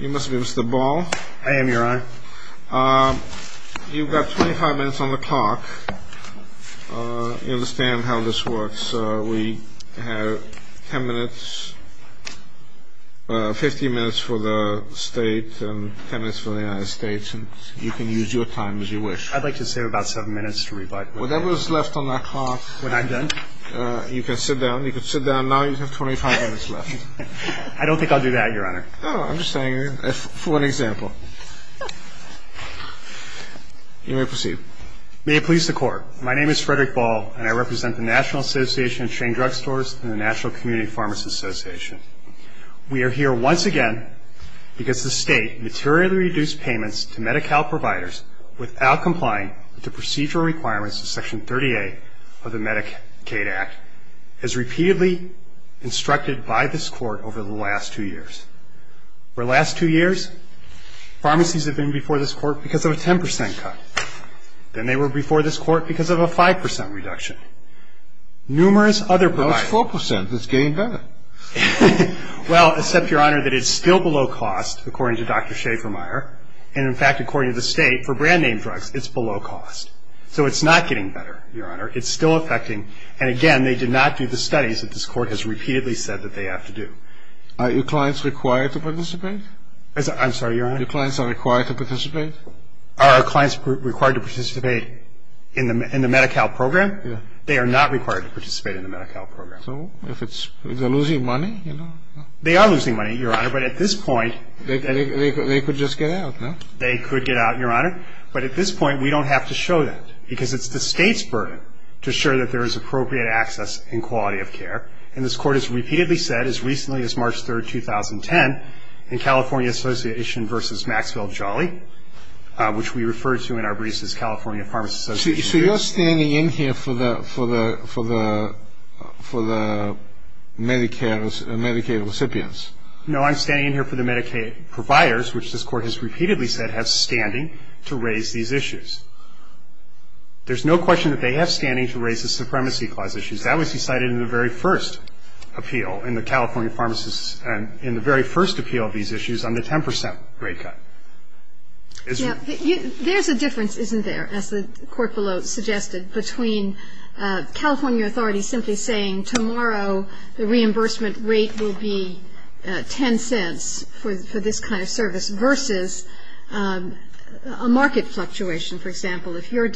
You must be Mr. Ball. I am, your honor. You've got 25 minutes on the clock. You understand how this works. We have 10 minutes, 15 minutes for the state and 10 minutes for the United States. You can use your time as you wish. I'd like to save about 7 minutes to revise. Whatever is left on that clock... When I'm done? You can sit down. Now you have 25 minutes left. I don't think I'll do that, your honor. Oh, I'm just saying, for an example. You may proceed. May it please the court, my name is Frederick Ball, and I represent the National Association of Chain Drugstores and the National Community Pharmacy Association. We are here once again because the state materially reduced payments to Medi-Cal providers without complying with the procedural requirements of Section 30A of the Medicaid Act. As repeatedly instructed by this court over the last two years. For the last two years, pharmacies have been before this court because of a 10% cut. Then they were before this court because of a 5% reduction. Numerous other providers... No, it's 4%. It's getting better. Well, except, your honor, that it's still below cost, according to Dr. Schaefer-Meyer. And in fact, according to the state, for brand name drugs, it's below cost. So it's not getting better, your honor. It's still affecting. And again, they did not do the studies that this court has repeatedly said that they have to do. Are your clients required to participate? I'm sorry, your honor? Your clients are required to participate? Are our clients required to participate in the Medi-Cal program? Yes. They are not required to participate in the Medi-Cal program. So if they're losing money, you know? They are losing money, your honor, but at this point... They could just get out, no? They could get out, your honor. But at this point, we don't have to show that. Because it's the state's burden to show that there is appropriate access and quality of care. And this court has repeatedly said, as recently as March 3, 2010, in California Association v. Maxwell Jolly, which we refer to in our briefs as California Pharmacy Association... So you're standing in here for the Medi-Cal recipients? No, I'm standing in here for the Medicaid providers, which this court has repeatedly said have standing to raise these issues. There's no question that they have standing to raise the Supremacy Clause issues. That was decided in the very first appeal in the California pharmacists' – in the very first appeal of these issues on the 10 percent rate cut, isn't it? Yeah. There's a difference, isn't there, as the court below suggested, between California authorities simply saying, tomorrow the reimbursement rate will be 10 cents for this kind of service, versus a market fluctuation, for example. If your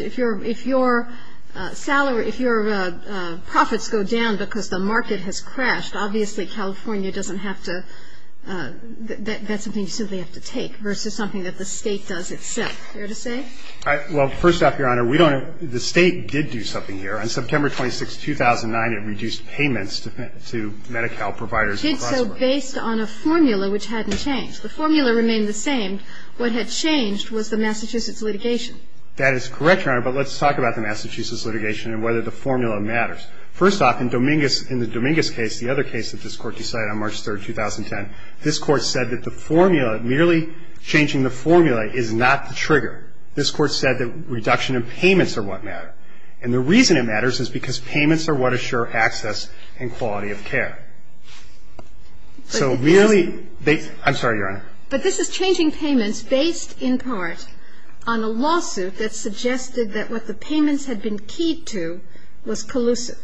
salary – if your profits go down because the market has crashed, obviously California doesn't have to – that's something you simply have to take, versus something that the state does itself. Fair to say? Well, first off, Your Honor, we don't – the state did do something here. On September 26, 2009, it reduced payments to Medi-Cal providers. It did so based on a formula which hadn't changed. The formula remained the same. What had changed was the Massachusetts litigation. That is correct, Your Honor, but let's talk about the Massachusetts litigation and whether the formula matters. First off, in Dominguez – in the Dominguez case, the other case that this Court decided on March 3, 2010, this Court said that the formula – merely changing the formula is not the trigger. This Court said that reduction in payments are what matter, and the reason it matters is because payments are what assure access and quality of care. So merely – I'm sorry, Your Honor. But this is changing payments based, in part, on a lawsuit that suggested that what the payments had been keyed to was collusive.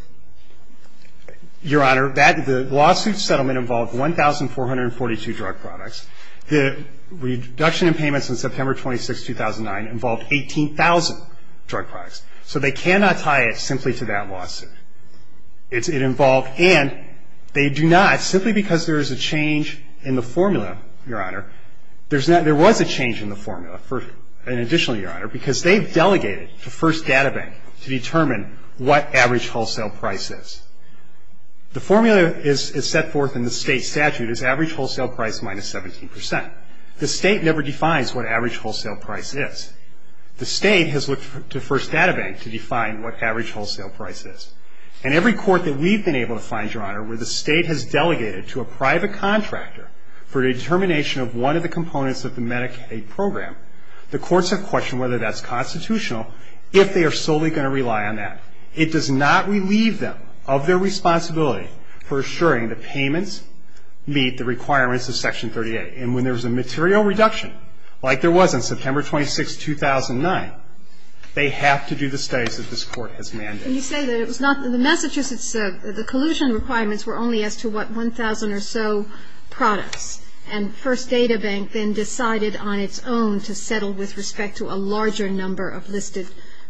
Your Honor, that – the lawsuit settlement involved 1,442 drug products. The reduction in payments on September 26, 2009 involved 18,000 drug products. So they cannot tie it simply to that lawsuit. It involved – and they do not simply because there is a change in the formula, Your Honor. There's not – there was a change in the formula for an additional, Your Honor, because they've delegated to First Data Bank to determine what average wholesale price is. The formula is set forth in the State statute as average wholesale price minus 17 percent. The State never defines what average wholesale price is. The State has looked to First Data Bank to define what average wholesale price is. And every court that we've been able to find, Your Honor, where the State has delegated to a private contractor for the determination of one of the components of the Medicaid program, the courts have questioned whether that's constitutional, if they are solely going to rely on that. It does not relieve them of their responsibility for assuring the payments meet the requirements of Section 38. And when there's a material reduction, like there was on September 26, 2009, they have to do the studies that this Court has mandated. And you say that it was not – the Massachusetts – the collusion requirements were only as to, what, 1,000 or so products. And First Data Bank then decided on its own to settle with respect to a larger number of listed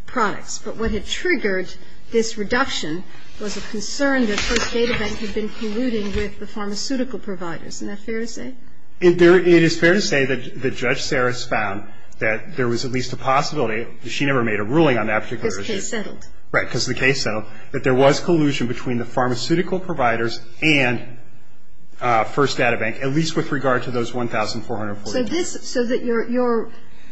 products. But what had triggered this reduction was a concern that First Data Bank had been colluding with the pharmaceutical providers. Isn't that fair to say? It is fair to say that Judge Saris found that there was at least a possibility – she never made a ruling on that particular issue. Because the case settled. Right. Because the case settled. That there was collusion between the pharmaceutical providers and First Data Bank, at least with regard to those 1,440. So this – so that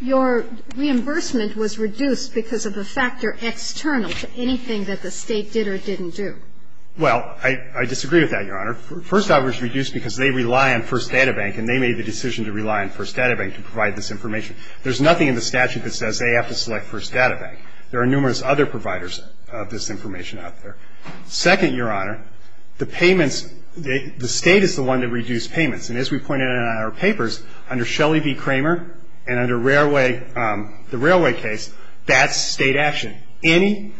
your reimbursement was reduced because of a factor external to anything that the State did or didn't do. Well, I disagree with that, Your Honor. First, I was reduced because they rely on First Data Bank, and they made the decision to rely on First Data Bank to provide this information. There's nothing in the statute that says they have to select First Data Bank. There are numerous other providers of this information out there. Second, Your Honor, the payments – the State is the one that reduced payments. And as we pointed out in our papers, under Shelley v. Kramer and under Railway – the Railway case, that's State action. Any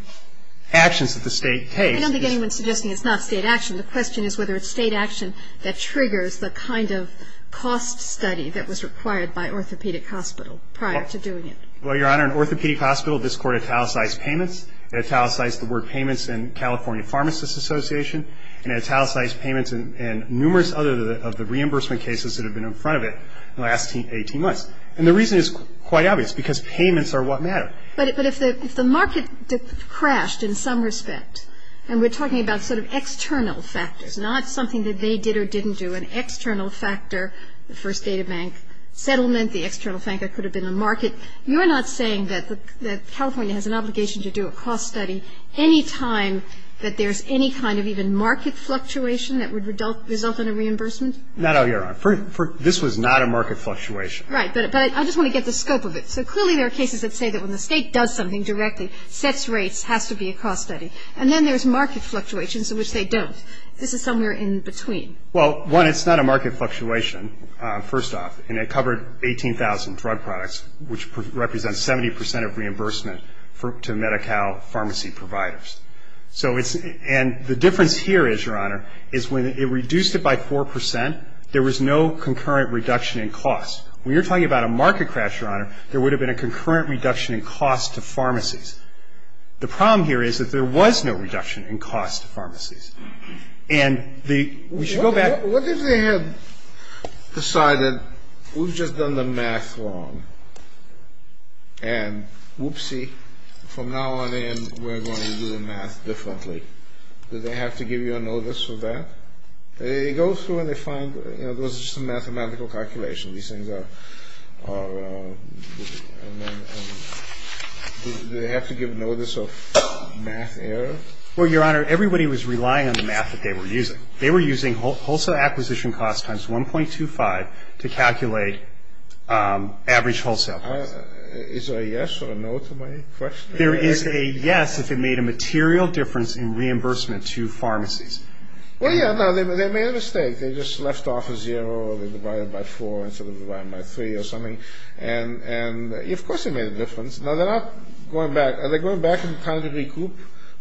actions that the State takes – I don't think anyone is suggesting it's not State action. The question is whether it's State action that triggers the kind of cost study that was required by Orthopedic Hospital prior to doing it. Well, Your Honor, in Orthopedic Hospital, this Court italicized payments. It italicized the word payments in California Pharmacists Association. And it italicized payments and numerous other of the reimbursement cases that have been in front of it in the last 18 months. And the reason is quite obvious, because payments are what matter. But if the market crashed in some respect, and we're talking about sort of external factors, not something that they did or didn't do, an external factor, the First Data Bank settlement, the external thing that could have been the market, you're not saying that California has an obligation to do a cost study any time that there's any kind of even market fluctuation that would result in a reimbursement? Not, Your Honor. This was not a market fluctuation. Right. But I just want to get the scope of it. So clearly there are cases that say that when the State does something directly, sets rates, has to be a cost study. And then there's market fluctuations in which they don't. This is somewhere in between. Well, one, it's not a market fluctuation, first off. And it covered 18,000 drug products, which represents 70 percent of reimbursement to Medi-Cal pharmacy providers. So it's – and the difference here is, Your Honor, is when it reduced it by 4 percent, there was no concurrent reduction in cost. When you're talking about a market crash, Your Honor, there would have been a concurrent reduction in cost to pharmacies. The problem here is that there was no reduction in cost to pharmacies. And the – we should go back. What if they had decided, we've just done the math wrong, and whoopsie, from now on in we're going to do the math differently? Do they have to give you a notice of that? They go through and they find, you know, those are some mathematical calculations. These things are – do they have to give notice of math error? Well, Your Honor, everybody was relying on the math that they were using. They were using wholesale acquisition cost times 1.25 to calculate average wholesale cost. Is there a yes or a no to my question? There is a yes if it made a material difference in reimbursement to pharmacies. Well, yeah. No, they made a mistake. They just left off a zero. They divided it by 4 instead of dividing it by 3 or something. And, of course, it made a difference. Now, they're not going back. Are they going back and trying to recoup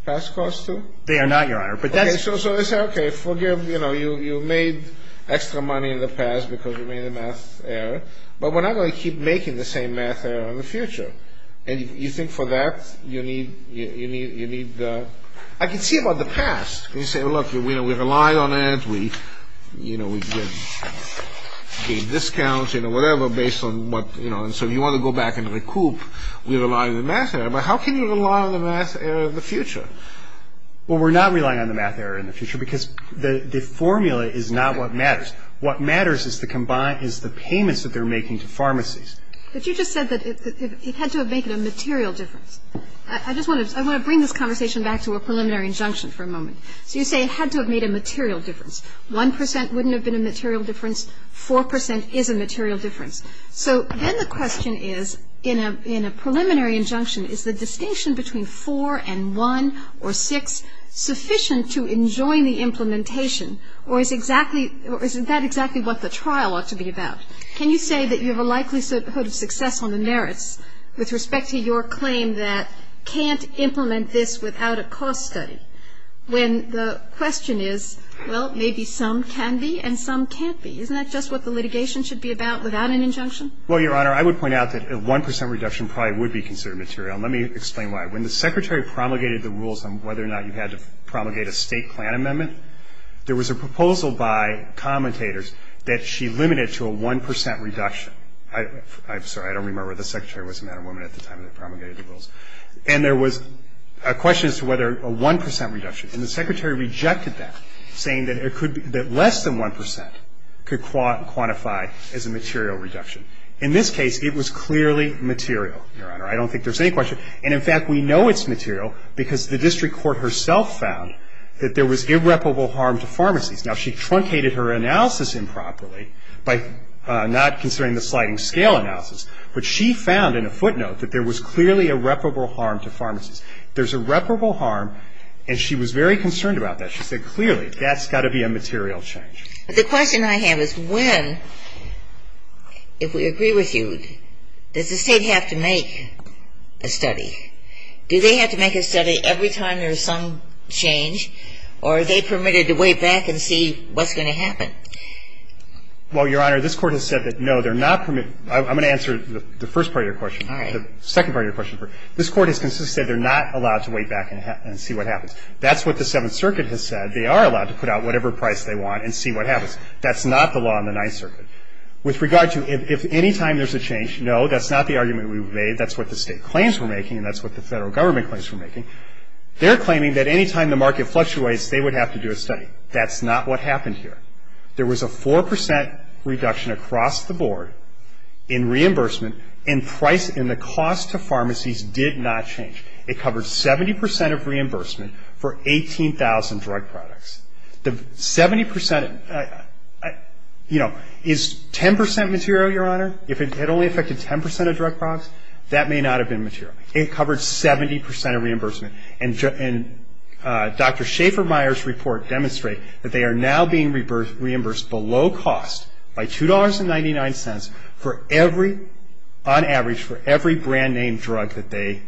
past costs too? They are not, Your Honor. Okay, so they say, okay, forgive, you know, you made extra money in the past because you made a math error, but we're not going to keep making the same math error in the future. And you think for that you need – I can see about the past. You say, look, we rely on it. We, you know, we get discounts, you know, whatever, based on what, you know, and so you want to go back and recoup. We rely on the math error, but how can you rely on the math error in the future? Well, we're not relying on the math error in the future because the formula is not what matters. What matters is the combined – is the payments that they're making to pharmacies. But you just said that it had to have made a material difference. I just want to – I want to bring this conversation back to a preliminary injunction for a moment. So you say it had to have made a material difference. 1 percent wouldn't have been a material difference. 4 percent is a material difference. So then the question is, in a preliminary injunction, is the distinction between 4 and 1 or 6 sufficient to enjoin the implementation, or is exactly – or isn't that exactly what the trial ought to be about? Can you say that you have a likelihood of success on the merits with respect to your claim that can't implement this without a cost study, when the question is, well, maybe some can be and some can't be? Isn't that just what the litigation should be about without an injunction? Well, Your Honor, I would point out that a 1 percent reduction probably would be considered material, and let me explain why. When the Secretary promulgated the rules on whether or not you had to promulgate a State plan amendment, there was a proposal by commentators that she limited to a 1 percent reduction. I'm sorry. I don't remember whether the Secretary was a man or woman at the time that promulgated the rules. And there was a question as to whether a 1 percent reduction. And the Secretary rejected that, saying that it could – that less than 1 percent could quantify as a material reduction. In this case, it was clearly material, Your Honor. I don't think there's any question. And, in fact, we know it's material because the district court herself found that there was irreparable harm to pharmacies. Now, she truncated her analysis improperly by not considering the sliding scale analysis, but she found in a footnote that there was clearly irreparable harm to pharmacies. There's irreparable harm, and she was very concerned about that. She said, clearly, that's got to be a material change. But the question I have is when, if we agree with you, does the State have to make a study? Do they have to make a study every time there's some change, or are they permitted to wait back and see what's going to happen? Well, Your Honor, this Court has said that, no, they're not permitted – I'm going to answer the first part of your question. All right. The second part of your question. This Court has consistently said they're not allowed to wait back and see what happens. That's what the Seventh Circuit has said. They are allowed to put out whatever price they want and see what happens. That's not the law in the Ninth Circuit. With regard to if any time there's a change, no, that's not the argument we've made. That's what the State claims we're making, and that's what the Federal Government claims we're making. They're claiming that any time the market fluctuates, they would have to do a study. That's not what happened here. There was a 4 percent reduction across the board in reimbursement and price in the past. The cost to pharmacies did not change. It covered 70 percent of reimbursement for 18,000 drug products. The 70 percent – you know, is 10 percent material, Your Honor? If it only affected 10 percent of drug products, that may not have been material. It covered 70 percent of reimbursement, and Dr. Schaefer-Meyer's report demonstrates that they are now being reimbursed below cost by $2.99 for every – for every brand-name drug that they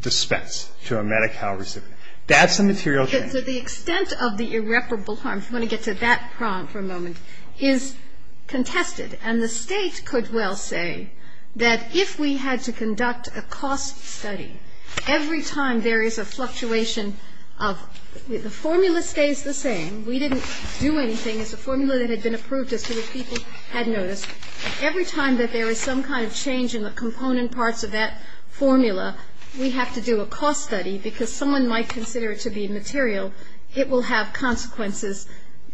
dispense to a Medi-Cal recipient. That's the material change. Kagan. So the extent of the irreparable harm, if you want to get to that prompt for a moment, is contested. And the State could well say that if we had to conduct a cost study, every time there is a fluctuation of – the formula stays the same. We didn't do anything. It's a formula that had been approved as to what people had noticed. Every time that there is some kind of change in the component parts of that formula, we have to do a cost study because someone might consider it to be material. It will have consequences,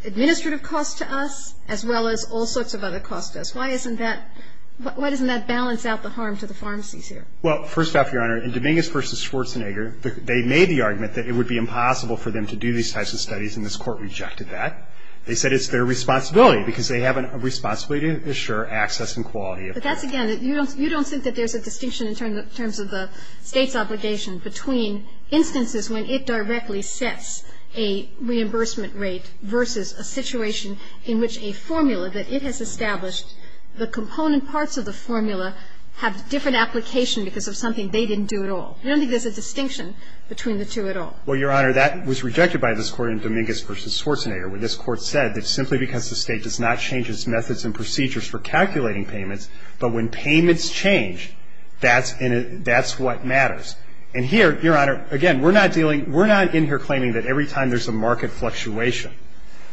administrative costs to us as well as all sorts of other costs to us. Why isn't that – why doesn't that balance out the harm to the pharmacies here? Well, first off, Your Honor, in Dominguez v. Schwarzenegger, they made the argument that it would be impossible for them to do these types of studies, and this Court rejected that. They said it's their responsibility, because they have a responsibility to ensure access and quality of care. But that's, again, you don't think that there's a distinction in terms of the State's obligation between instances when it directly sets a reimbursement rate versus a situation in which a formula that it has established, the component parts of the formula have different application because of something they didn't do at all. I don't think there's a distinction between the two at all. Well, Your Honor, that was rejected by this Court in Dominguez v. Schwarzenegger where this Court said that simply because the State does not change its methods and procedures for calculating payments, but when payments change, that's what matters. And here, Your Honor, again, we're not dealing – we're not in here claiming that every time there's a market fluctuation,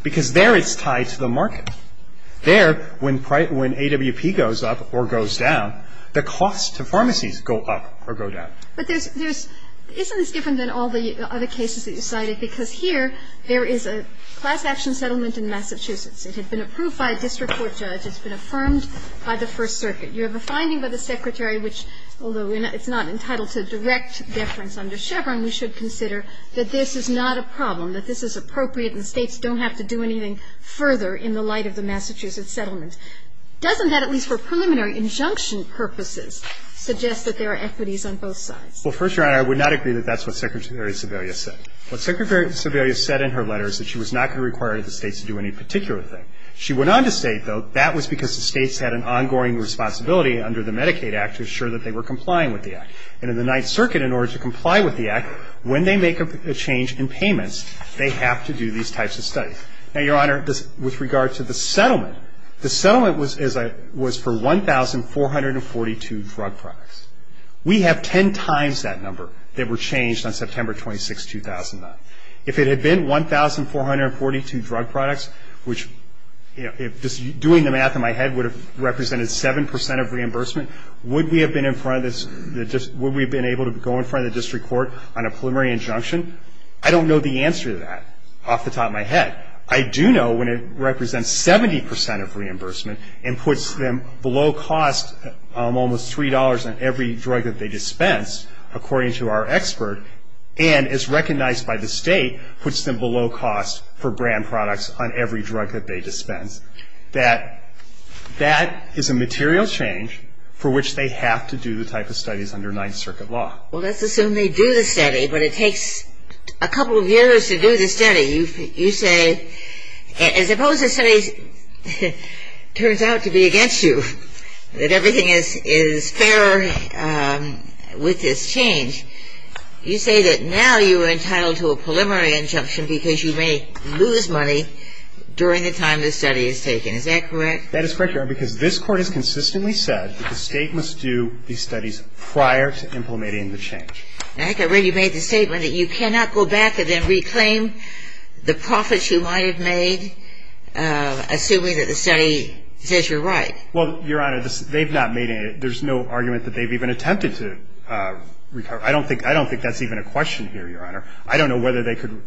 because there it's tied to the market. There, when AWP goes up or goes down, the costs to pharmacies go up or go down. But there's – isn't this different than all the other cases that you cited? Because here, there is a class action settlement in Massachusetts. It had been approved by a district court judge. It's been affirmed by the First Circuit. You have a finding by the Secretary which, although it's not entitled to direct deference under Chevron, we should consider that this is not a problem, that this is appropriate and States don't have to do anything further in the light of the Massachusetts settlement. Doesn't that, at least for preliminary injunction purposes, suggest that there are equities on both sides? Well, First Your Honor, I would not agree that that's what Secretary Sebelius said. What Secretary Sebelius said in her letter is that she was not going to require the States to do any particular thing. She went on to state, though, that was because the States had an ongoing responsibility under the Medicaid Act to assure that they were complying with the Act. And in the Ninth Circuit, in order to comply with the Act, when they make a change in payments, they have to do these types of studies. Now, Your Honor, with regard to the settlement, the settlement was for 1,442 drug products. We have ten times that number that were changed on September 26, 2009. If it had been 1,442 drug products, which, you know, doing the math in my head would have represented 7 percent of reimbursement, would we have been able to go in front of the district court on a preliminary injunction? I don't know the answer to that off the top of my head. I do know when it represents 70 percent of reimbursement and puts them below cost of almost $3 on every drug that they dispense, according to our expert, and is recognized by the State, puts them below cost for brand products on every drug that they dispense. That is a material change for which they have to do the type of studies under Ninth Circuit law. Well, let's assume they do the study, but it takes a couple of years to do the study. You say, as opposed to studies, turns out to be against you, that everything is fair with this change, you say that now you are entitled to a preliminary injunction because you may lose money during the time the study is taken. Is that correct? That is correct, Your Honor, because this Court has consistently said that the State must do these studies prior to implementing the change. And I think I already made the statement that you cannot go back and then reclaim the profits you might have made, assuming that the study says you're right. Well, Your Honor, they've not made any. There's no argument that they've even attempted to recover. I don't think that's even a question here, Your Honor. I don't know whether they could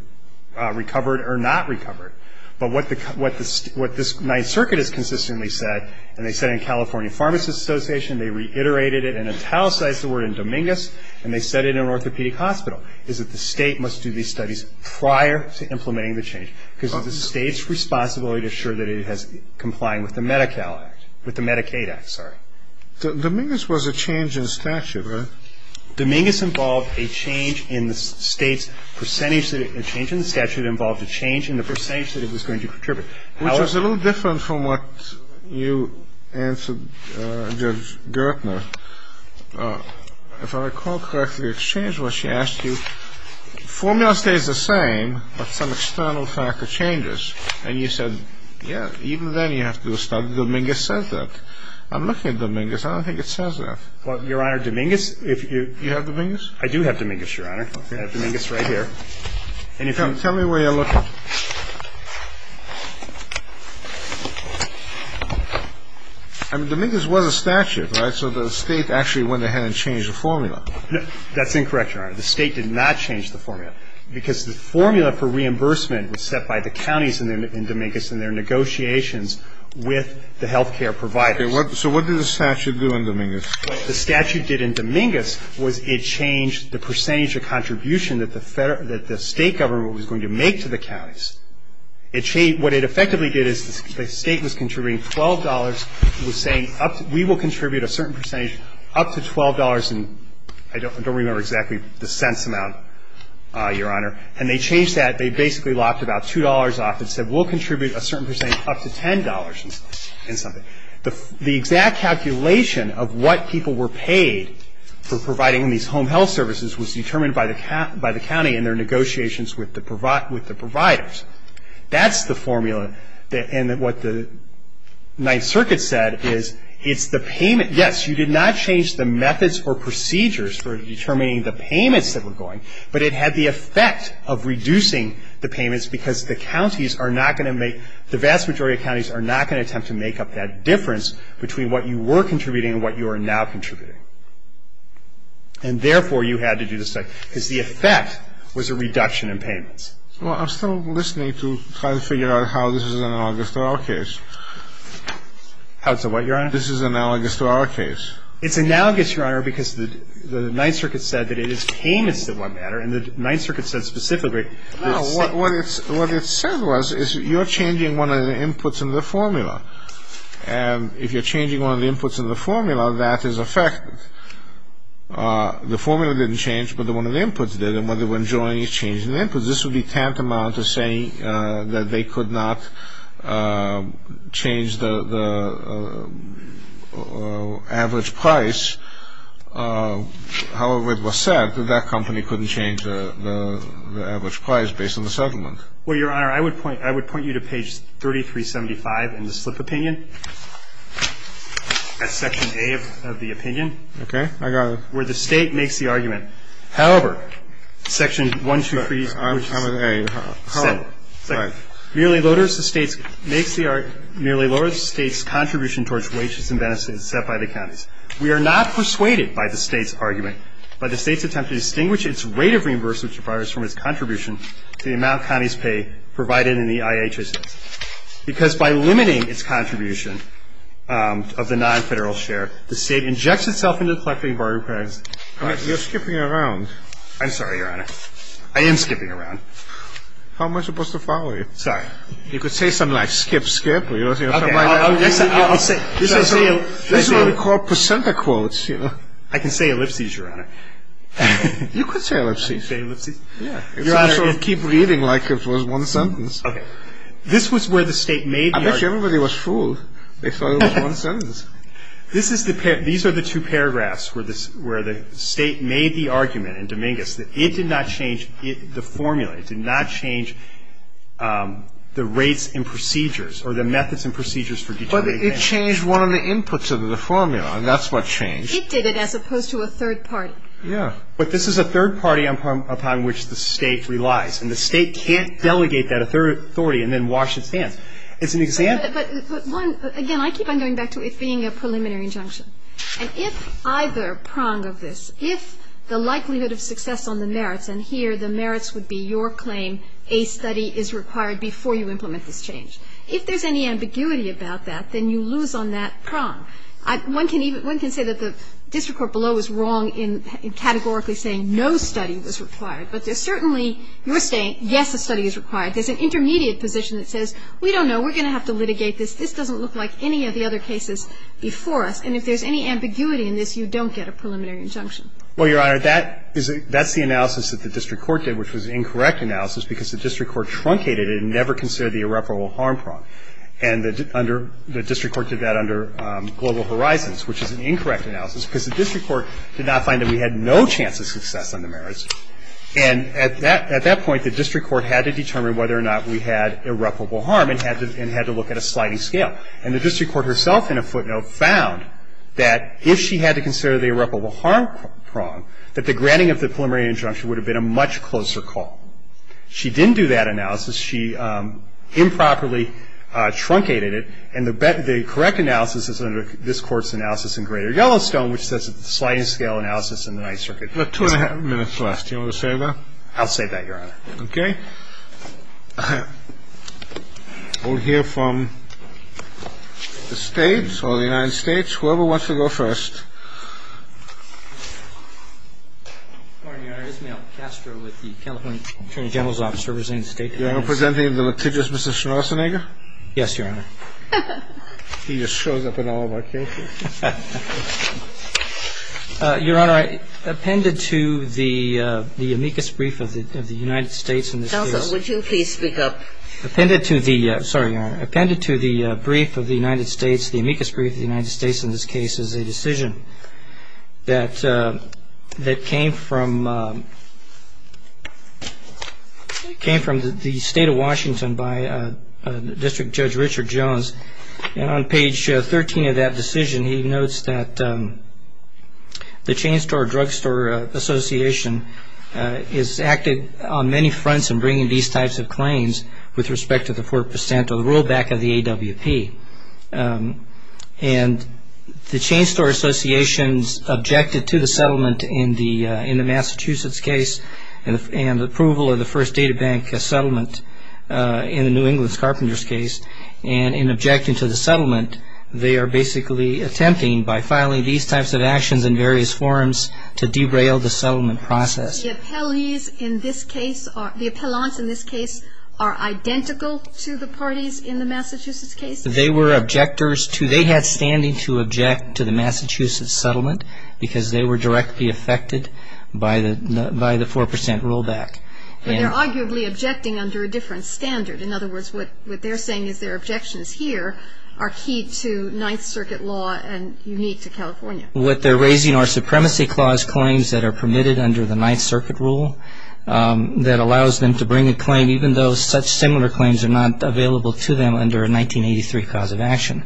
recover it or not recover it. But what this Ninth Circuit has consistently said, and they said in California Pharmacists Association, they reiterated it and italicized the word in Dominguez, and they said it in an orthopedic hospital, is that the State must do these studies prior to implementing the change because of the State's responsibility to assure that it is complying with the Medi-Cal Act, with the Medicaid Act, sorry. Dominguez was a change in statute, right? Dominguez involved a change in the State's percentage, a change in the statute involved a change in the percentage that it was going to contribute. Which was a little different from what you answered Judge Gertner. If I recall correctly, it changed when she asked you, the formula stays the same, but some external factor changes. And you said, yeah, even then you have to do a study. Dominguez says that. I'm looking at Dominguez. I don't think it says that. Well, Your Honor, Dominguez, if you have Dominguez? I do have Dominguez, Your Honor. I have Dominguez right here. And if you can tell me where you're looking. I mean, Dominguez was a statute, right? So the State actually went ahead and changed the formula. That's incorrect, Your Honor. The State did not change the formula. Because the formula for reimbursement was set by the counties in Dominguez in their negotiations with the health care providers. So what did the statute do in Dominguez? The statute did in Dominguez was it changed the percentage of contribution that the State government was going to make to the counties. What it effectively did is the State was contributing $12. It was saying we will contribute a certain percentage up to $12. And I don't remember exactly the cents amount, Your Honor. And they changed that. They basically locked about $2 off and said we'll contribute a certain percentage up to $10 and something. The exact calculation of what people were paid for providing these home health services was determined by the county in their negotiations with the providers. That's the formula. And what the Ninth Circuit said is it's the payment. Yes, you did not change the methods or procedures for determining the payments that were going. But it had the effect of reducing the payments because the counties are not going to make the vast majority of counties are not going to attempt to make up that difference between what you were contributing and what you are now contributing. And therefore, you had to do this because the effect was a reduction in payments. Well, I'm still listening to try to figure out how this is analogous to our case. How to what, Your Honor? This is analogous to our case. It's analogous, Your Honor, because the Ninth Circuit said that it is payments that matter. And the Ninth Circuit said specifically. No, what it said was is you're changing one of the inputs in the formula. And if you're changing one of the inputs in the formula, that is affected. The formula didn't change, but one of the inputs did. And what they were enjoying is changing the inputs. This would be tantamount to saying that they could not change the average price. However, it was said that that company couldn't change the average price based on the settlement. Well, Your Honor, I would point you to page 3375 in the slip opinion. That's section A of the opinion. Okay. I got it. Where the State makes the argument, however, section 123. I'm at A. However, merely lowers the State's contribution towards wages and benefits set by the counties. We are not persuaded by the State's argument, but the State's attempt to distinguish its rate of reimbursement requires from its contribution to the amount counties pay provided in the IHSS. Because by limiting its contribution of the non-federal share, the State injects itself into the collective environment. You're skipping around. I'm sorry, Your Honor. I am skipping around. How am I supposed to follow you? Sorry. You could say something like skip, skip. Okay. I'll say it. This is what we call presenter quotes, you know. I can say ellipses, Your Honor. You could say ellipses. I can say ellipses? Your Honor, if you keep reading like it was one sentence. Okay. This was where the State made the argument. I bet you everybody was fooled. They thought it was one sentence. This is the pair. These are the two paragraphs where the State made the argument in Dominguez that it did not change the formula. It did not change the rates and procedures or the methods and procedures for determining benefits. But it changed one of the inputs of the formula, and that's what changed. It did it as opposed to a third party. Yeah. But this is a third party upon which the State relies, and the State can't delegate that authority and then wash its hands. It's an example. But, one, again, I keep on going back to it being a preliminary injunction. And if either prong of this, if the likelihood of success on the merits, and here the merits would be your claim, a study is required before you implement this change. If there's any ambiguity about that, then you lose on that prong. One can say that the district court below is wrong in categorically saying no study was required. But there's certainly your saying, yes, a study is required. There's an intermediate position that says, we don't know. We're going to have to litigate this. This doesn't look like any of the other cases before us. And if there's any ambiguity in this, you don't get a preliminary injunction. Well, Your Honor, that's the analysis that the district court did, which was an incorrect analysis because the district court truncated it and never considered the irreparable harm prong. And the district court did that under Global Horizons, which is an incorrect analysis because the district court did not find that we had no chance of success on the merits. And at that point, the district court had to determine whether or not we had irreparable harm and had to look at a sliding scale. And the district court herself in a footnote found that if she had to consider the irreparable harm prong, that the granting of the preliminary injunction would have been a much closer call. She didn't do that analysis. She improperly truncated it. And the correct analysis is under this Court's analysis in Greater Yellowstone, which says it's a sliding scale analysis in the Ninth Circuit. We have two and a half minutes left. Do you want to save that? I'll save that, Your Honor. Okay. We'll hear from the States or the United States, whoever wants to go first. Good morning, Your Honor. I'm Ismail Castro with the California Attorney General's Office of Resilient State Democracy. You're presenting the litigious Mr. Schonassenegger? Yes, Your Honor. He just shows up in all of our cases. Your Honor, I appended to the amicus brief of the United States in this case. Counsel, would you please speak up? Appended to the — sorry, Your Honor. Appended to the brief of the United States, the amicus brief of the United States in this case is a decision that came from the State of Washington by District Judge Richard Jones. And on page 13 of that decision, he notes that the Chain Store Drug Store Association has acted on many fronts in bringing these types of claims with respect to the 4% or rollback of the AWP. And the Chain Store Associations objected to the settlement in the Massachusetts case and approval of the first databank settlement in the New England Carpenters case. And in objecting to the settlement, they are basically attempting by filing these types of actions in various forms to derail the settlement process. The appellants in this case are identical to the parties in the Massachusetts case? They were objectors to — they had standing to object to the Massachusetts settlement because they were directly affected by the 4% rollback. But they're arguably objecting under a different standard. In other words, what they're saying is their objections here are key to Ninth Circuit law and unique to California. What they're raising are Supremacy Clause claims that are permitted under the Ninth Circuit rule that allows them to bring a claim, even though such similar claims are not available to them under a 1983 cause of action.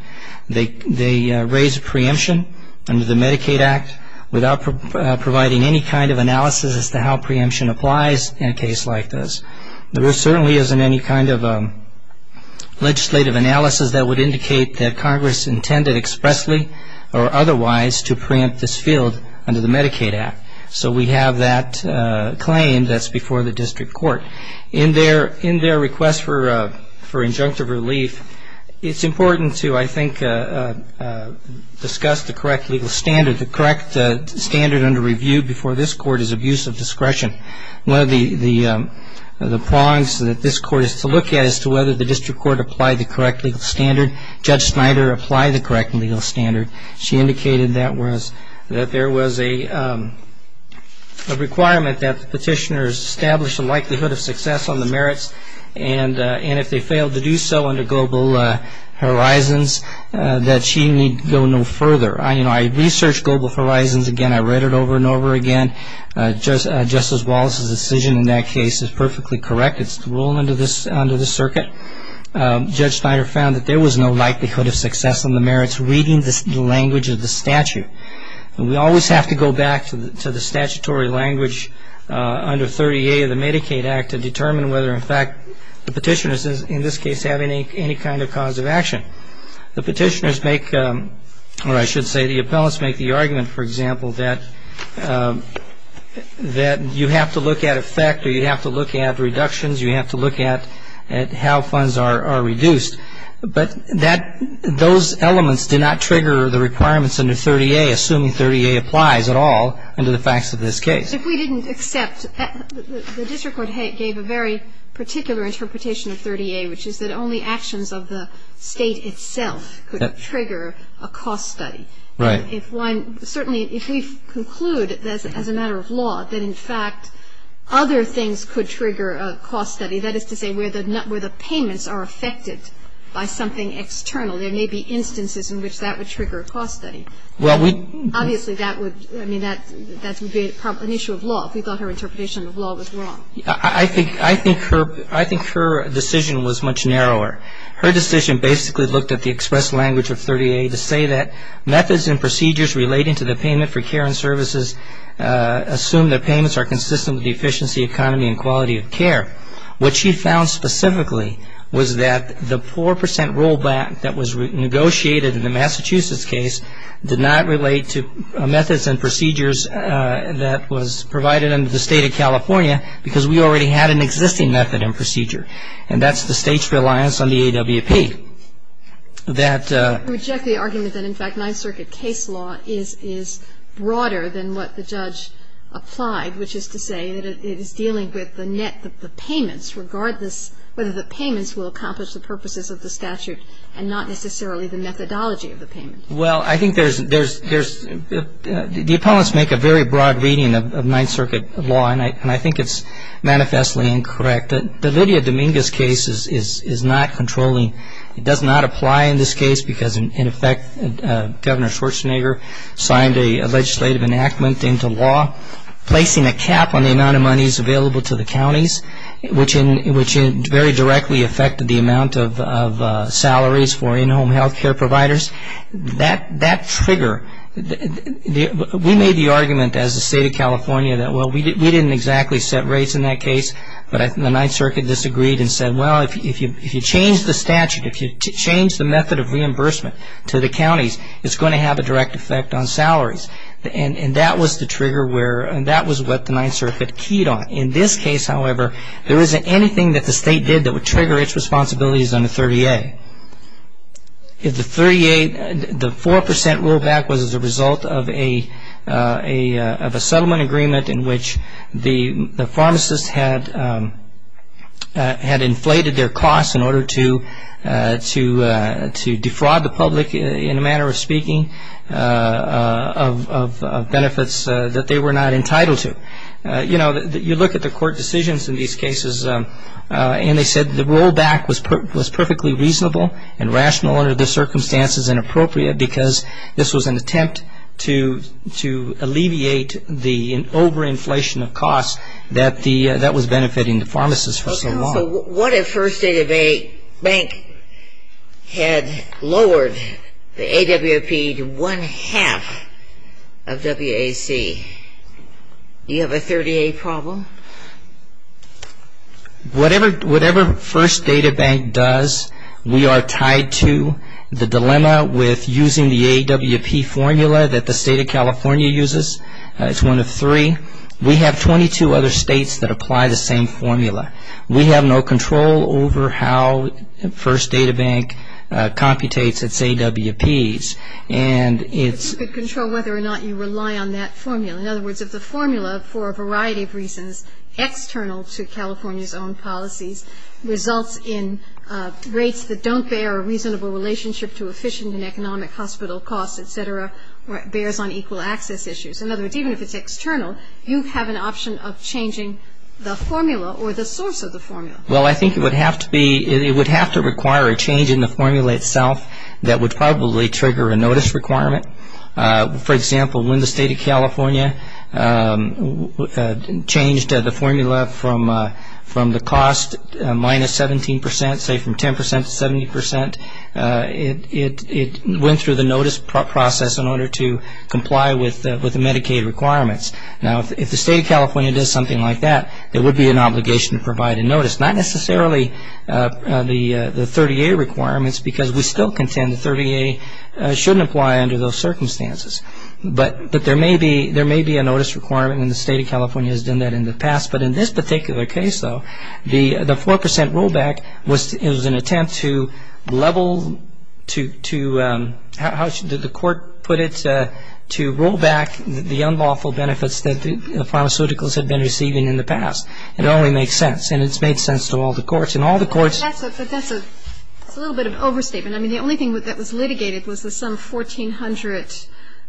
They raise a preemption under the Medicaid Act without providing any kind of analysis as to how preemption applies in a case like this. There certainly isn't any kind of legislative analysis that would indicate that Congress intended expressly or otherwise to preempt this field under the Medicaid Act. So we have that claim that's before the district court. In their request for injunctive relief, it's important to, I think, discuss the correct legal standard. The correct standard under review before this court is abuse of discretion. One of the prongs that this court is to look at is to whether the district court applied the correct legal standard. Judge Snyder applied the correct legal standard. She indicated that there was a requirement that the petitioners establish a likelihood of success on the merits, and if they failed to do so under Global Horizons, that she need go no further. I researched Global Horizons again. I read it over and over again. Justice Wallace's decision in that case is perfectly correct. It's the rule under this circuit. Judge Snyder found that there was no likelihood of success on the merits, reading the language of the statute. We always have to go back to the statutory language under 30A of the Medicaid Act to determine whether, in fact, the petitioners in this case have any kind of cause of action. The petitioners make, or I should say the appellants make the argument, for example, that you have to look at effect or you have to look at reductions, you have to look at how funds are reduced. But that, those elements did not trigger the requirements under 30A, assuming 30A applies at all under the facts of this case. But if we didn't accept, the district court gave a very particular interpretation of 30A, which is that only actions of the State itself could trigger a cost study. Right. If one, certainly if we conclude as a matter of law that, in fact, other things could trigger a cost study, that is to say where the payments are affected by something external, there may be instances in which that would trigger a cost study. Well, we Obviously, that would, I mean, that would be an issue of law, if we thought her interpretation of law was wrong. I think her decision was much narrower. Her decision basically looked at the express language of 30A to say that methods and procedures relating to the payment for care and services assume that payments are consistent with the efficiency, economy, and quality of care, which she found specifically was that the 4% rollback that was negotiated in the Massachusetts case did not relate to methods and procedures that was provided under the State of California, because we already had an existing method and procedure. And that's the State's reliance on the AWP. That I reject the argument that, in fact, Ninth Circuit case law is broader than what the judge applied, which is to say that it is dealing with the net, the payments, regardless whether the payments will accomplish the purposes of the statute and not necessarily the methodology of the payment. Well, I think there's the opponents make a very broad reading of Ninth Circuit law, and I think it's manifestly incorrect. The Lydia Dominguez case is not controlling. It does not apply in this case because, in effect, Governor Schwarzenegger signed a legislative enactment into law placing a cap on the amount of monies available to the counties, which very directly affected the amount of salaries for in-home health care providers. That trigger, we made the argument as the State of California that, well, we didn't exactly set rates in that case, but the Ninth Circuit disagreed and said, well, if you change the statute, if you change the method of reimbursement to the counties, it's going to have a direct effect on salaries. And that was the trigger where, and that was what the Ninth Circuit keyed on. In this case, however, there isn't anything that the state did that would trigger its responsibilities under 30A. If the 30A, the 4% rollback was as a result of a settlement agreement in which the pharmacists had inflated their costs in order to defraud the public, in a manner of speaking, of benefits that they were not entitled to. You look at the court decisions in these cases, and they said the rollback was perfectly reasonable and rational under the circumstances and appropriate because this was an attempt to alleviate the overinflation of costs that was benefiting the pharmacists for so long. So what if First Data Bank had lowered the AWP to one-half of WAC? Do you have a 30A problem? Whatever First Data Bank does, we are tied to the dilemma with using the AWP formula that the state of California uses. It's one of three. We have 22 other states that apply the same formula. We have no control over how First Data Bank computates its AWPs. And it's- But you could control whether or not you rely on that formula. In other words, if the formula, for a variety of reasons, external to California's own policies, results in rates that don't bear a reasonable relationship to efficient and economic hospital costs, et cetera, bears on equal access issues. In other words, even if it's external, you have an option of changing the formula or the source of the formula. Well, I think it would have to be- it would have to require a change in the formula itself that would probably trigger a notice requirement. For example, when the state of California changed the formula from the cost minus 17%, say from 10% to 70%, it went through the notice process in order to comply with the Medicaid requirements. Now, if the state of California does something like that, it would be an obligation to provide a notice, not necessarily the 30A requirements because we still contend the 30A shouldn't apply under those circumstances. But there may be a notice requirement, and the state of California has done that in the past. But in this particular case, though, the 4% rollback was an attempt to level to- how should the court put it? To roll back the unlawful benefits that the pharmaceuticals had been receiving in the past. It only makes sense, and it's made sense to all the courts. And all the courts- But that's a little bit of overstatement. I mean, the only thing that was litigated was some 1,400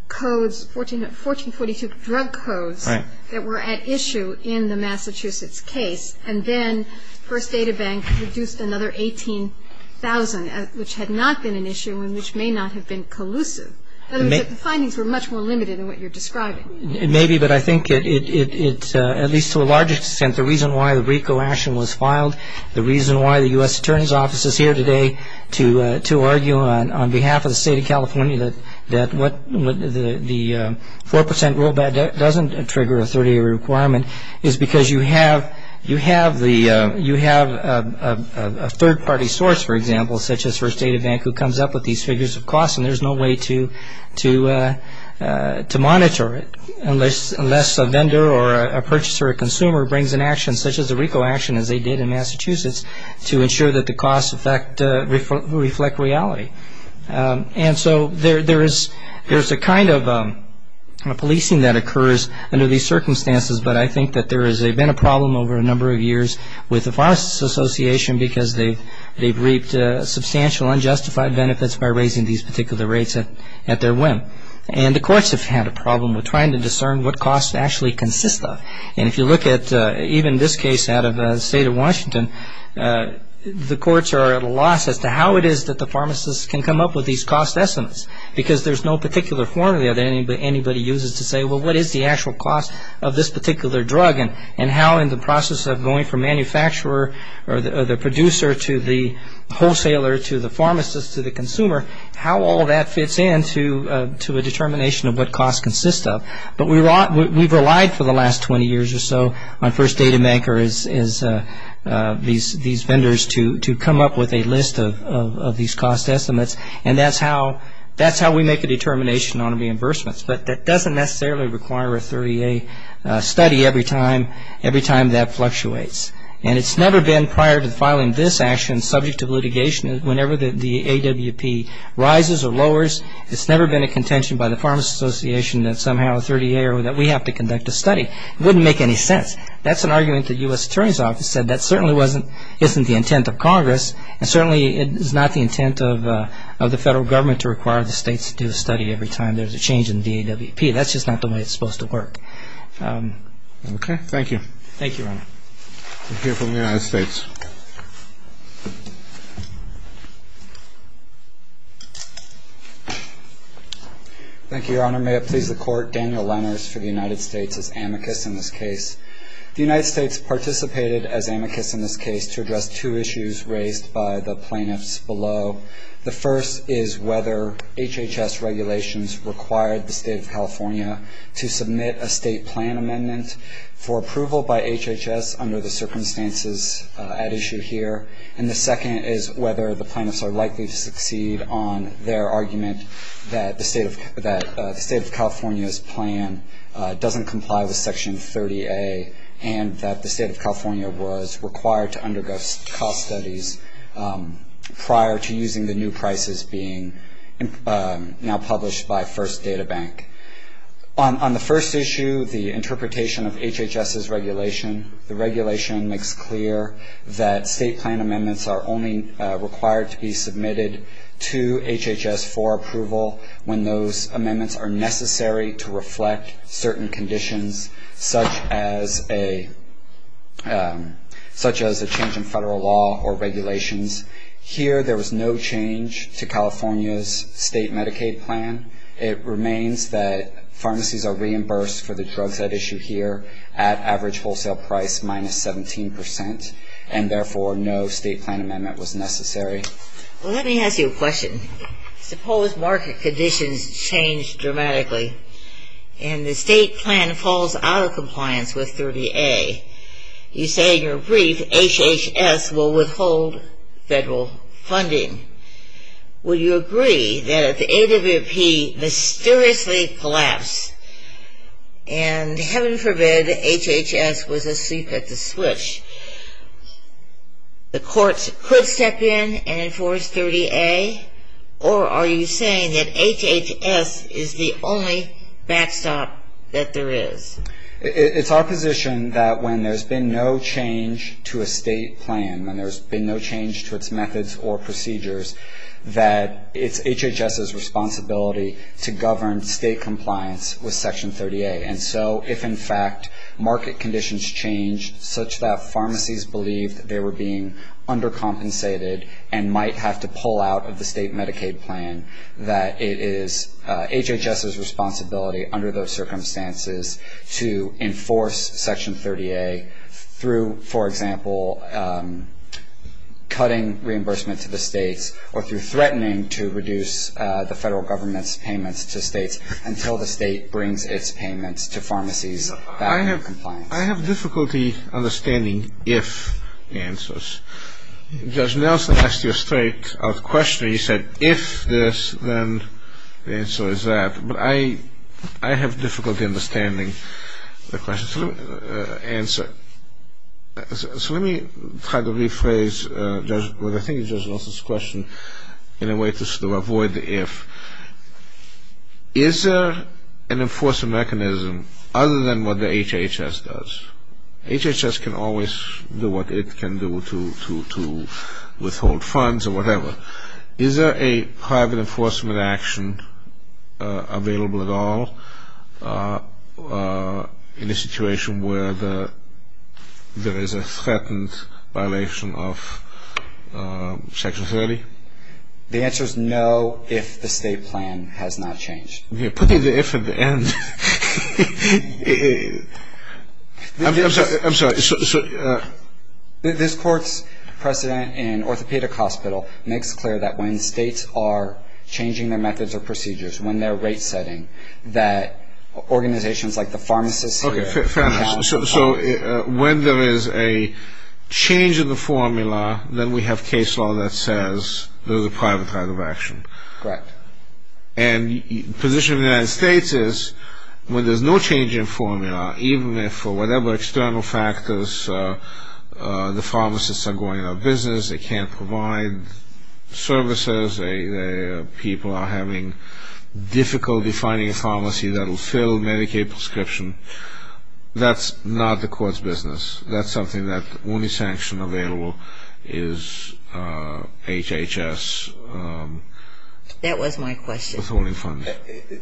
codes, 1,442 drug codes that were at issue in the Massachusetts case. And then First Data Bank reduced another 18,000, which had not been an issue and which may not have been collusive. In other words, the findings were much more limited than what you're describing. Maybe, but I think it's, at least to a large extent, the reason why the RICO action was filed, the reason why the U.S. Attorney's Office is here today to argue on behalf of the state of California that what the 4% rollback doesn't trigger a 30A requirement is because you have a third-party source, for example, such as First Data Bank who comes up with these figures of cost, and there's no way to monitor it unless a vendor or a purchaser or consumer brings an action, such as the RICO action as they did in Massachusetts, to ensure that the costs reflect reality. And so there's a kind of policing that occurs under these circumstances, but I think that there has been a problem over a number of years with the Pharmacists Association because they've reaped substantial unjustified benefits by raising these particular rates at their whim. And the courts have had a problem with trying to discern what costs actually consist of. And if you look at even this case out of the state of Washington, the courts are at a loss as to how it is that the pharmacists can come up with these cost estimates because there's no particular formula that anybody uses to say, well, what is the actual cost of this particular drug, and how in the process of going from manufacturer or the producer to the wholesaler to the pharmacist to the consumer, how all that fits in to a determination of what costs consist of. But we've relied for the last 20 years or so on First Data Bank or these vendors to come up with a list of these cost estimates, and that's how we make a determination on reimbursements. But that doesn't necessarily require a 30-A study every time that fluctuates. And it's never been prior to filing this action, subject to litigation, whenever the AWP rises or lowers, it's never been a contention by the Pharmacists Association that somehow a 30-A or that we have to conduct a study. It wouldn't make any sense. That's an argument the U.S. Attorney's Office said that certainly isn't the intent of Congress, and certainly it is not the intent of the federal government to require the states to do a study every time there's a change in the AWP. That's just not the way it's supposed to work. Okay. Thank you. Thank you, Your Honor. We'll hear from the United States. Thank you, Your Honor. May it please the Court, Daniel Lenners for the United States as amicus in this case. The United States participated as amicus in this case to address two issues raised by the plaintiffs below. The first is whether HHS regulations required the State of California to submit a state plan amendment for approval by HHS under the circumstances at issue here. And the second is whether the plaintiffs are likely to succeed on their argument that the State of California's plan doesn't comply with Section 30A and that the State of California was required to undergo cost studies prior to using the new prices being now published by First Data Bank. On the first issue, the interpretation of HHS's regulation, the regulation makes clear that state plan amendments are only required to be submitted to HHS for approval when those amendments are necessary to reflect certain conditions such as a change in federal law or regulations. Here there was no change to California's state Medicaid plan. It remains that pharmacies are reimbursed for the drugs at issue here at average wholesale price minus 17 percent, and therefore no state plan amendment was necessary. Well, let me ask you a question. Suppose market conditions change dramatically and the state plan falls out of compliance with 30A. You say in your brief HHS will withhold federal funding. Would you agree that if the AWP mysteriously collapsed and heaven forbid HHS was asleep at the switch, the courts could step in and enforce 30A? Or are you saying that HHS is the only backstop that there is? It's our position that when there's been no change to a state plan, when there's been no change to its methods or procedures, that it's HHS's responsibility to govern state compliance with Section 30A. And so if, in fact, market conditions change such that pharmacies believe they were being undercompensated and might have to pull out of the state Medicaid plan, that it is HHS's responsibility under those circumstances to enforce Section 30A through, for example, cutting reimbursement to the states or through threatening to reduce the federal government's payments to states until the state brings its payments to pharmacies that are in compliance. I have difficulty understanding if answers. Judge Nelson asked you a straight out question. He said if this, then the answer is that. But I have difficulty understanding the question. So let me try to rephrase what I think is Judge Nelson's question in a way to avoid the if. Is there an enforcement mechanism other than what the HHS does? HHS can always do what it can do to withhold funds or whatever. Is there a private enforcement action available at all in a situation where there is a threatened violation of Section 30? The answer is no, if the state plan has not changed. You're putting the if at the end. I'm sorry. This Court's precedent in Orthopedic Hospital makes clear that when states are changing their methods or procedures, when they're rate-setting, that organizations like the pharmacists. Okay, fair enough. So when there is a change in the formula, then we have case law that says there's a private type of action. Correct. And the position of the United States is when there's no change in formula, even if for whatever external factors the pharmacists are going out of business, they can't provide services, people are having difficulty finding a pharmacy that will fill Medicaid prescription. That's not the Court's business. That's something that the only sanction available is HHS withholding funds. That was my question.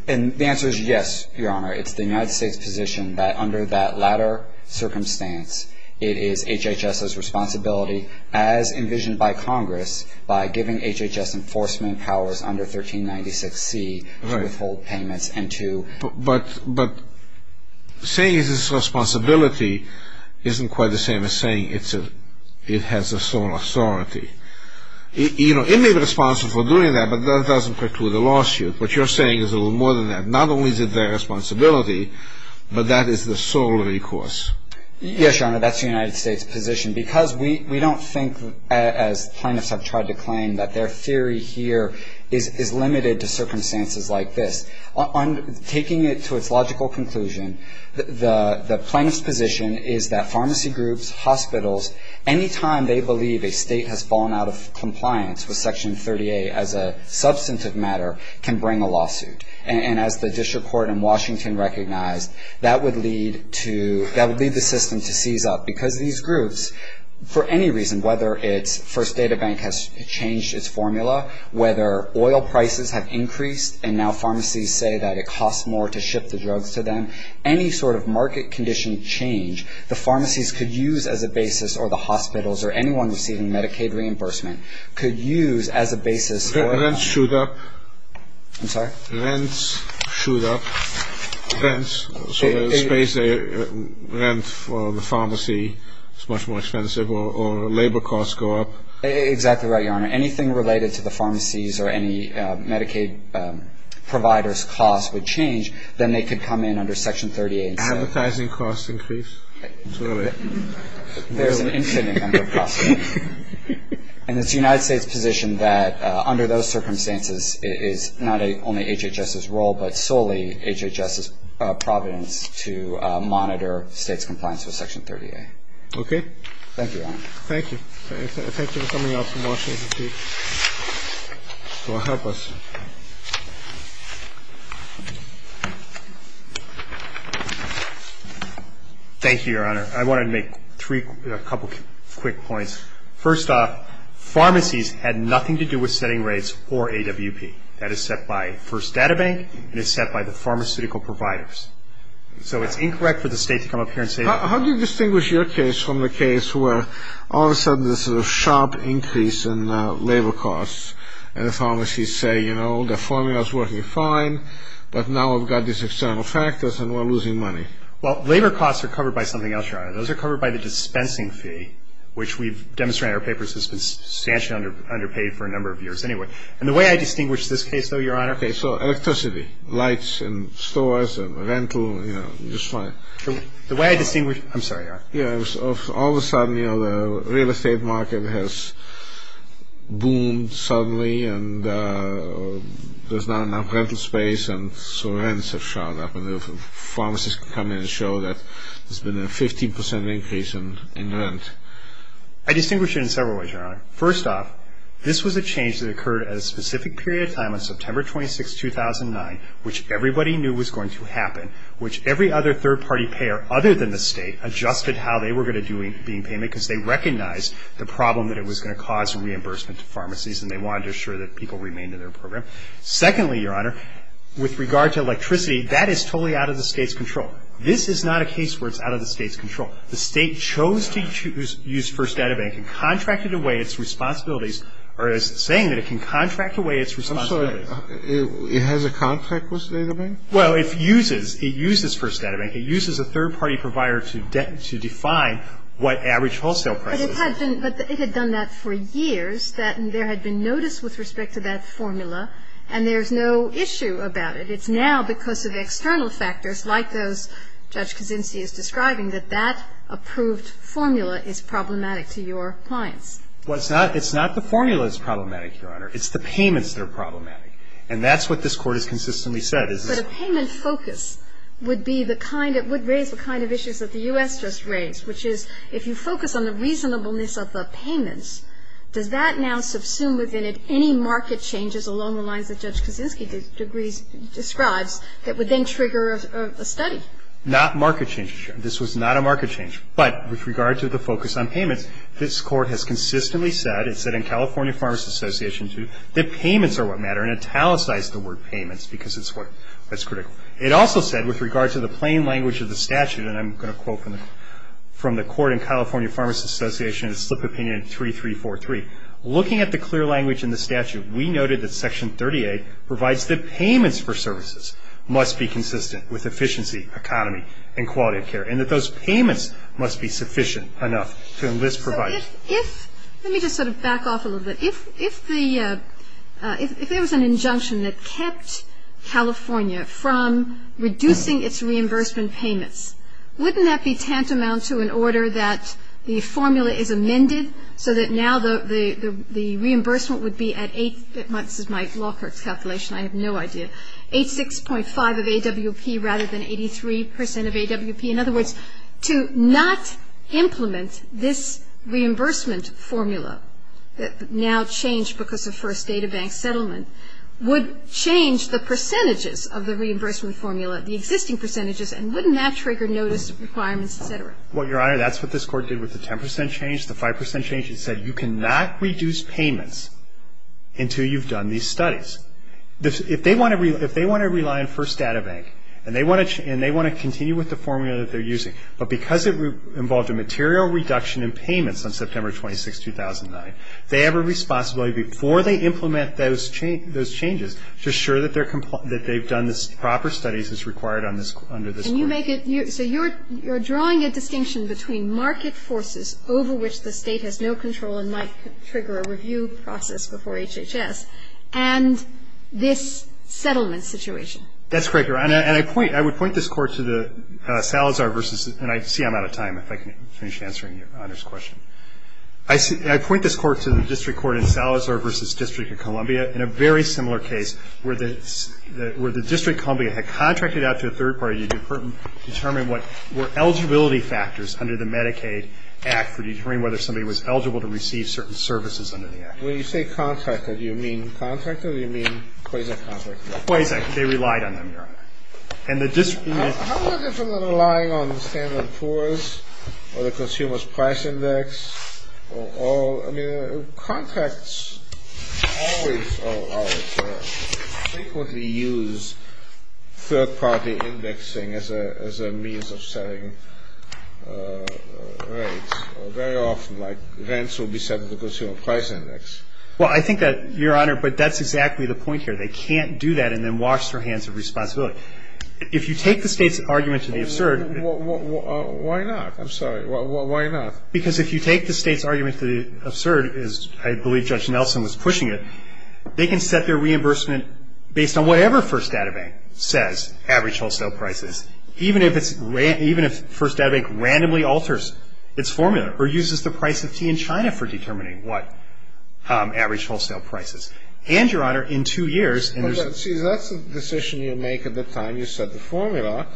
And the answer is yes, Your Honor. It's the United States' position that under that latter circumstance, it is HHS's responsibility, as envisioned by Congress, by giving HHS enforcement powers under 1396C, withhold payments, and to... But saying it's its responsibility isn't quite the same as saying it has a sole authority. It may be responsible for doing that, but that doesn't preclude a lawsuit. What you're saying is a little more than that. Not only is it their responsibility, but that is the sole recourse. Yes, Your Honor, that's the United States' position. Because we don't think, as plaintiffs have tried to claim, that their theory here is limited to circumstances like this. On taking it to its logical conclusion, the plaintiff's position is that pharmacy groups, hospitals, any time they believe a state has fallen out of compliance with Section 30A as a substantive matter can bring a lawsuit. And as the district court in Washington recognized, that would lead to... Because these groups, for any reason, whether it's First Data Bank has changed its formula, whether oil prices have increased and now pharmacies say that it costs more to ship the drugs to them, any sort of market condition change, the pharmacies could use as a basis, or the hospitals, or anyone receiving Medicaid reimbursement could use as a basis... I'm sorry? Rents shoot up. Rents, so the space they rent for the pharmacy is much more expensive, or labor costs go up. Exactly right, Your Honor. Anything related to the pharmacies or any Medicaid providers' costs would change. Then they could come in under Section 30A and say... Advertising costs increase. There's an infinite number of costs. And it's the United States' position that under those circumstances it is not only HHS's role, but solely HHS's providence to monitor states' compliance with Section 30A. Thank you, Your Honor. Thank you. Thank you for coming out from Washington, D.C. to help us. Thank you, Your Honor. I wanted to make a couple quick points. First off, pharmacies had nothing to do with setting rates or AWP. That is set by First Data Bank and is set by the pharmaceutical providers. So it's incorrect for the state to come up here and say... How do you distinguish your case from the case where all of a sudden there's a sharp increase in labor costs and the pharmacies say, you know, the formula's working fine, but now I've got these external factors and we're losing money? Well, labor costs are covered by something else, Your Honor. Those are covered by the dispensing fee, which we've demonstrated in our papers has been substantially underpaid for a number of years anyway. And the way I distinguish this case, though, Your Honor... Okay, so electricity, lights in stores and rental, you know, just fine. The way I distinguish... I'm sorry, Your Honor. Yeah, all of a sudden, you know, the real estate market has boomed suddenly and there's not enough rental space and so rents have shot up and the pharmacies come in and show that there's been a 15% increase in rent. I distinguish it in several ways, Your Honor. First off, this was a change that occurred at a specific period of time on September 26, 2009, which everybody knew was going to happen, which every other third-party payer other than the state adjusted how they were going to be in payment because they recognized the problem that it was going to cause in reimbursement to pharmacies and they wanted to assure that people remained in their program. Secondly, Your Honor, with regard to electricity, that is totally out of the state's control. This is not a case where it's out of the state's control. The state chose to use First Data Bank and contracted away its responsibilities or is saying that it can contract away its responsibilities. I'm sorry. It has a contract with Data Bank? Well, it uses First Data Bank. It uses a third-party provider to define what average wholesale price is. But it had done that for years, that there had been notice with respect to that formula, and there's no issue about it. It's now because of external factors like those Judge Kaczynski is describing that that approved formula is problematic to your clients. Well, it's not the formula that's problematic, Your Honor. It's the payments that are problematic. And that's what this Court has consistently said. But a payment focus would be the kind of – would raise the kind of issues that the U.S. just raised, which is if you focus on the reasonableness of the payments, does that now subsume within it any market changes along the lines that Judge Kaczynski describes that would then trigger a study? Not market changes, Your Honor. This was not a market change. But with regard to the focus on payments, this Court has consistently said, it said in California Pharmacy Association, too, that payments are what matter, and italicized the word payments because it's what's critical. It also said with regard to the plain language of the statute, and I'm going to quote from the Court in California Pharmacy Association, slip opinion 3343, looking at the clear language in the statute, we noted that Section 38 provides that payments for services must be consistent with efficiency, economy, and quality of care, and that those payments must be sufficient enough to enlist providers. So if – let me just sort of back off a little bit. If there was an injunction that kept California from reducing its reimbursement payments, wouldn't that be tantamount to an order that the formula is amended so that now the reimbursement would be at 8 – this is my law court's calculation, I have no idea – 86.5 of AWP rather than 83% of AWP? In other words, to not implement this reimbursement formula that now changed because of First Data Bank settlement would change the percentages of the reimbursement formula, the existing percentages, and wouldn't that trigger notice of requirements, et cetera? Well, Your Honor, that's what this Court did with the 10% change, the 5% change. It said you cannot reduce payments until you've done these studies. If they want to – if they want to rely on First Data Bank, and they want to continue with the formula that they're using, but because it involved a material reduction in payments on September 26, 2009, they have a responsibility before they implement those changes to assure that they've done the proper studies as required under this Court. And you make it – so you're drawing a distinction between market forces over which the State has no control and might trigger a review process before HHS and this settlement situation. That's correct, Your Honor. And I point – I would point this Court to the Salazar versus – and I see I'm out of time if I can finish answering Your Honor's question. I point this Court to the district court in Salazar versus District of Columbia in a very similar case where the District of Columbia had contracted out to a third party to determine what were eligibility factors under the Medicaid Act for determining whether somebody was eligible to receive certain services under the Act. When you say contracted, do you mean contracted or do you mean quasi-contracted? Quasi-contracted. They relied on them, Your Honor. And the district – How is it different than relying on the standard force or the consumer's price index or all – I mean, contracts always – or frequently use third party indexing as a means of setting rates. Very often, like, rents will be set at the consumer price index. Well, I think that – Your Honor, but that's exactly the point here. They can't do that and then wash their hands of responsibility. If you take the State's argument to the absurd – Why not? I'm sorry. Why not? Because if you take the State's argument to the absurd, as I believe Judge Nelson was pushing it, they can set their reimbursement based on whatever First Data Bank says, average wholesale prices, even if it's – even if First Data Bank randomly alters its formula or uses the price of tea in China for determining what average wholesale prices. And, Your Honor, in two years – See, that's a decision you make at the time you set the formula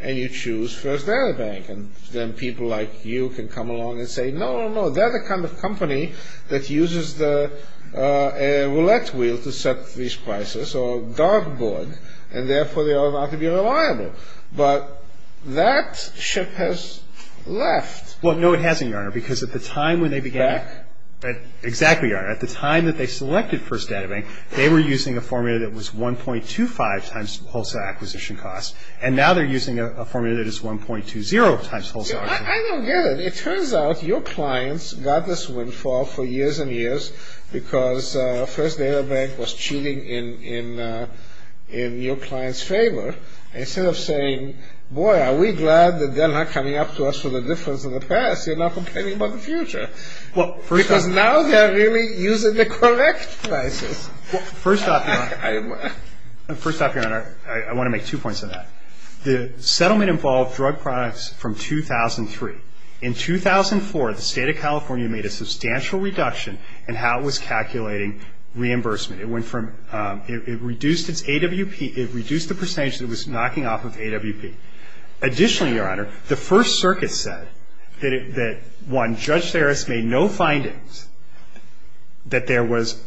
and you choose First Data Bank. And then people like you can come along and say, no, no, no, they're the kind of company that uses the roulette wheel to set these prices or dartboard, and therefore they ought not to be reliable. But that ship has left. Well, no, it hasn't, Your Honor, because at the time when they began – Back? Exactly, Your Honor. At the time that they selected First Data Bank, they were using a formula that was 1.25 times wholesale acquisition costs, and now they're using a formula that is 1.20 times wholesale acquisition costs. See, I don't get it. It turns out your clients got this windfall for years and years because First Data Bank was cheating in your clients' favor. Instead of saying, boy, are we glad that they're not coming up to us for the difference in the past, they're now complaining about the future. Because now they're really using the correct prices. First off, Your Honor, I want to make two points on that. The settlement involved drug products from 2003. In 2004, the State of California made a substantial reduction in how it was calculating reimbursement. It went from – it reduced its AWP – it reduced the percentage that was knocking off of AWP. And Judge Serris made no findings that there was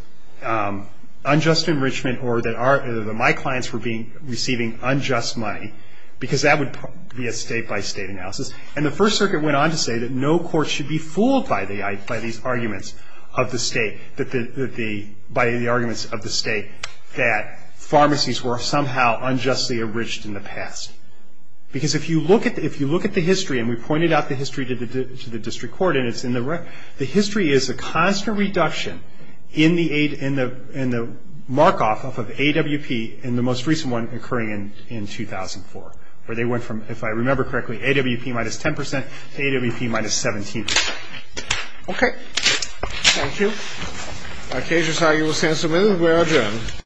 unjust enrichment or that my clients were receiving unjust money because that would be a state-by-state analysis. And the First Circuit went on to say that no court should be fooled by these arguments of the state – by the arguments of the state that pharmacies were somehow unjustly enriched in the past. Because if you look at the history, and we pointed out the history to the district court, and it's in the – the history is a constant reduction in the mark-off of AWP in the most recent one occurring in 2004, where they went from, if I remember correctly, AWP minus 10 percent to AWP minus 17 percent. Okay. Thank you. All right, cases, I argue, will stand submitted. We are adjourned.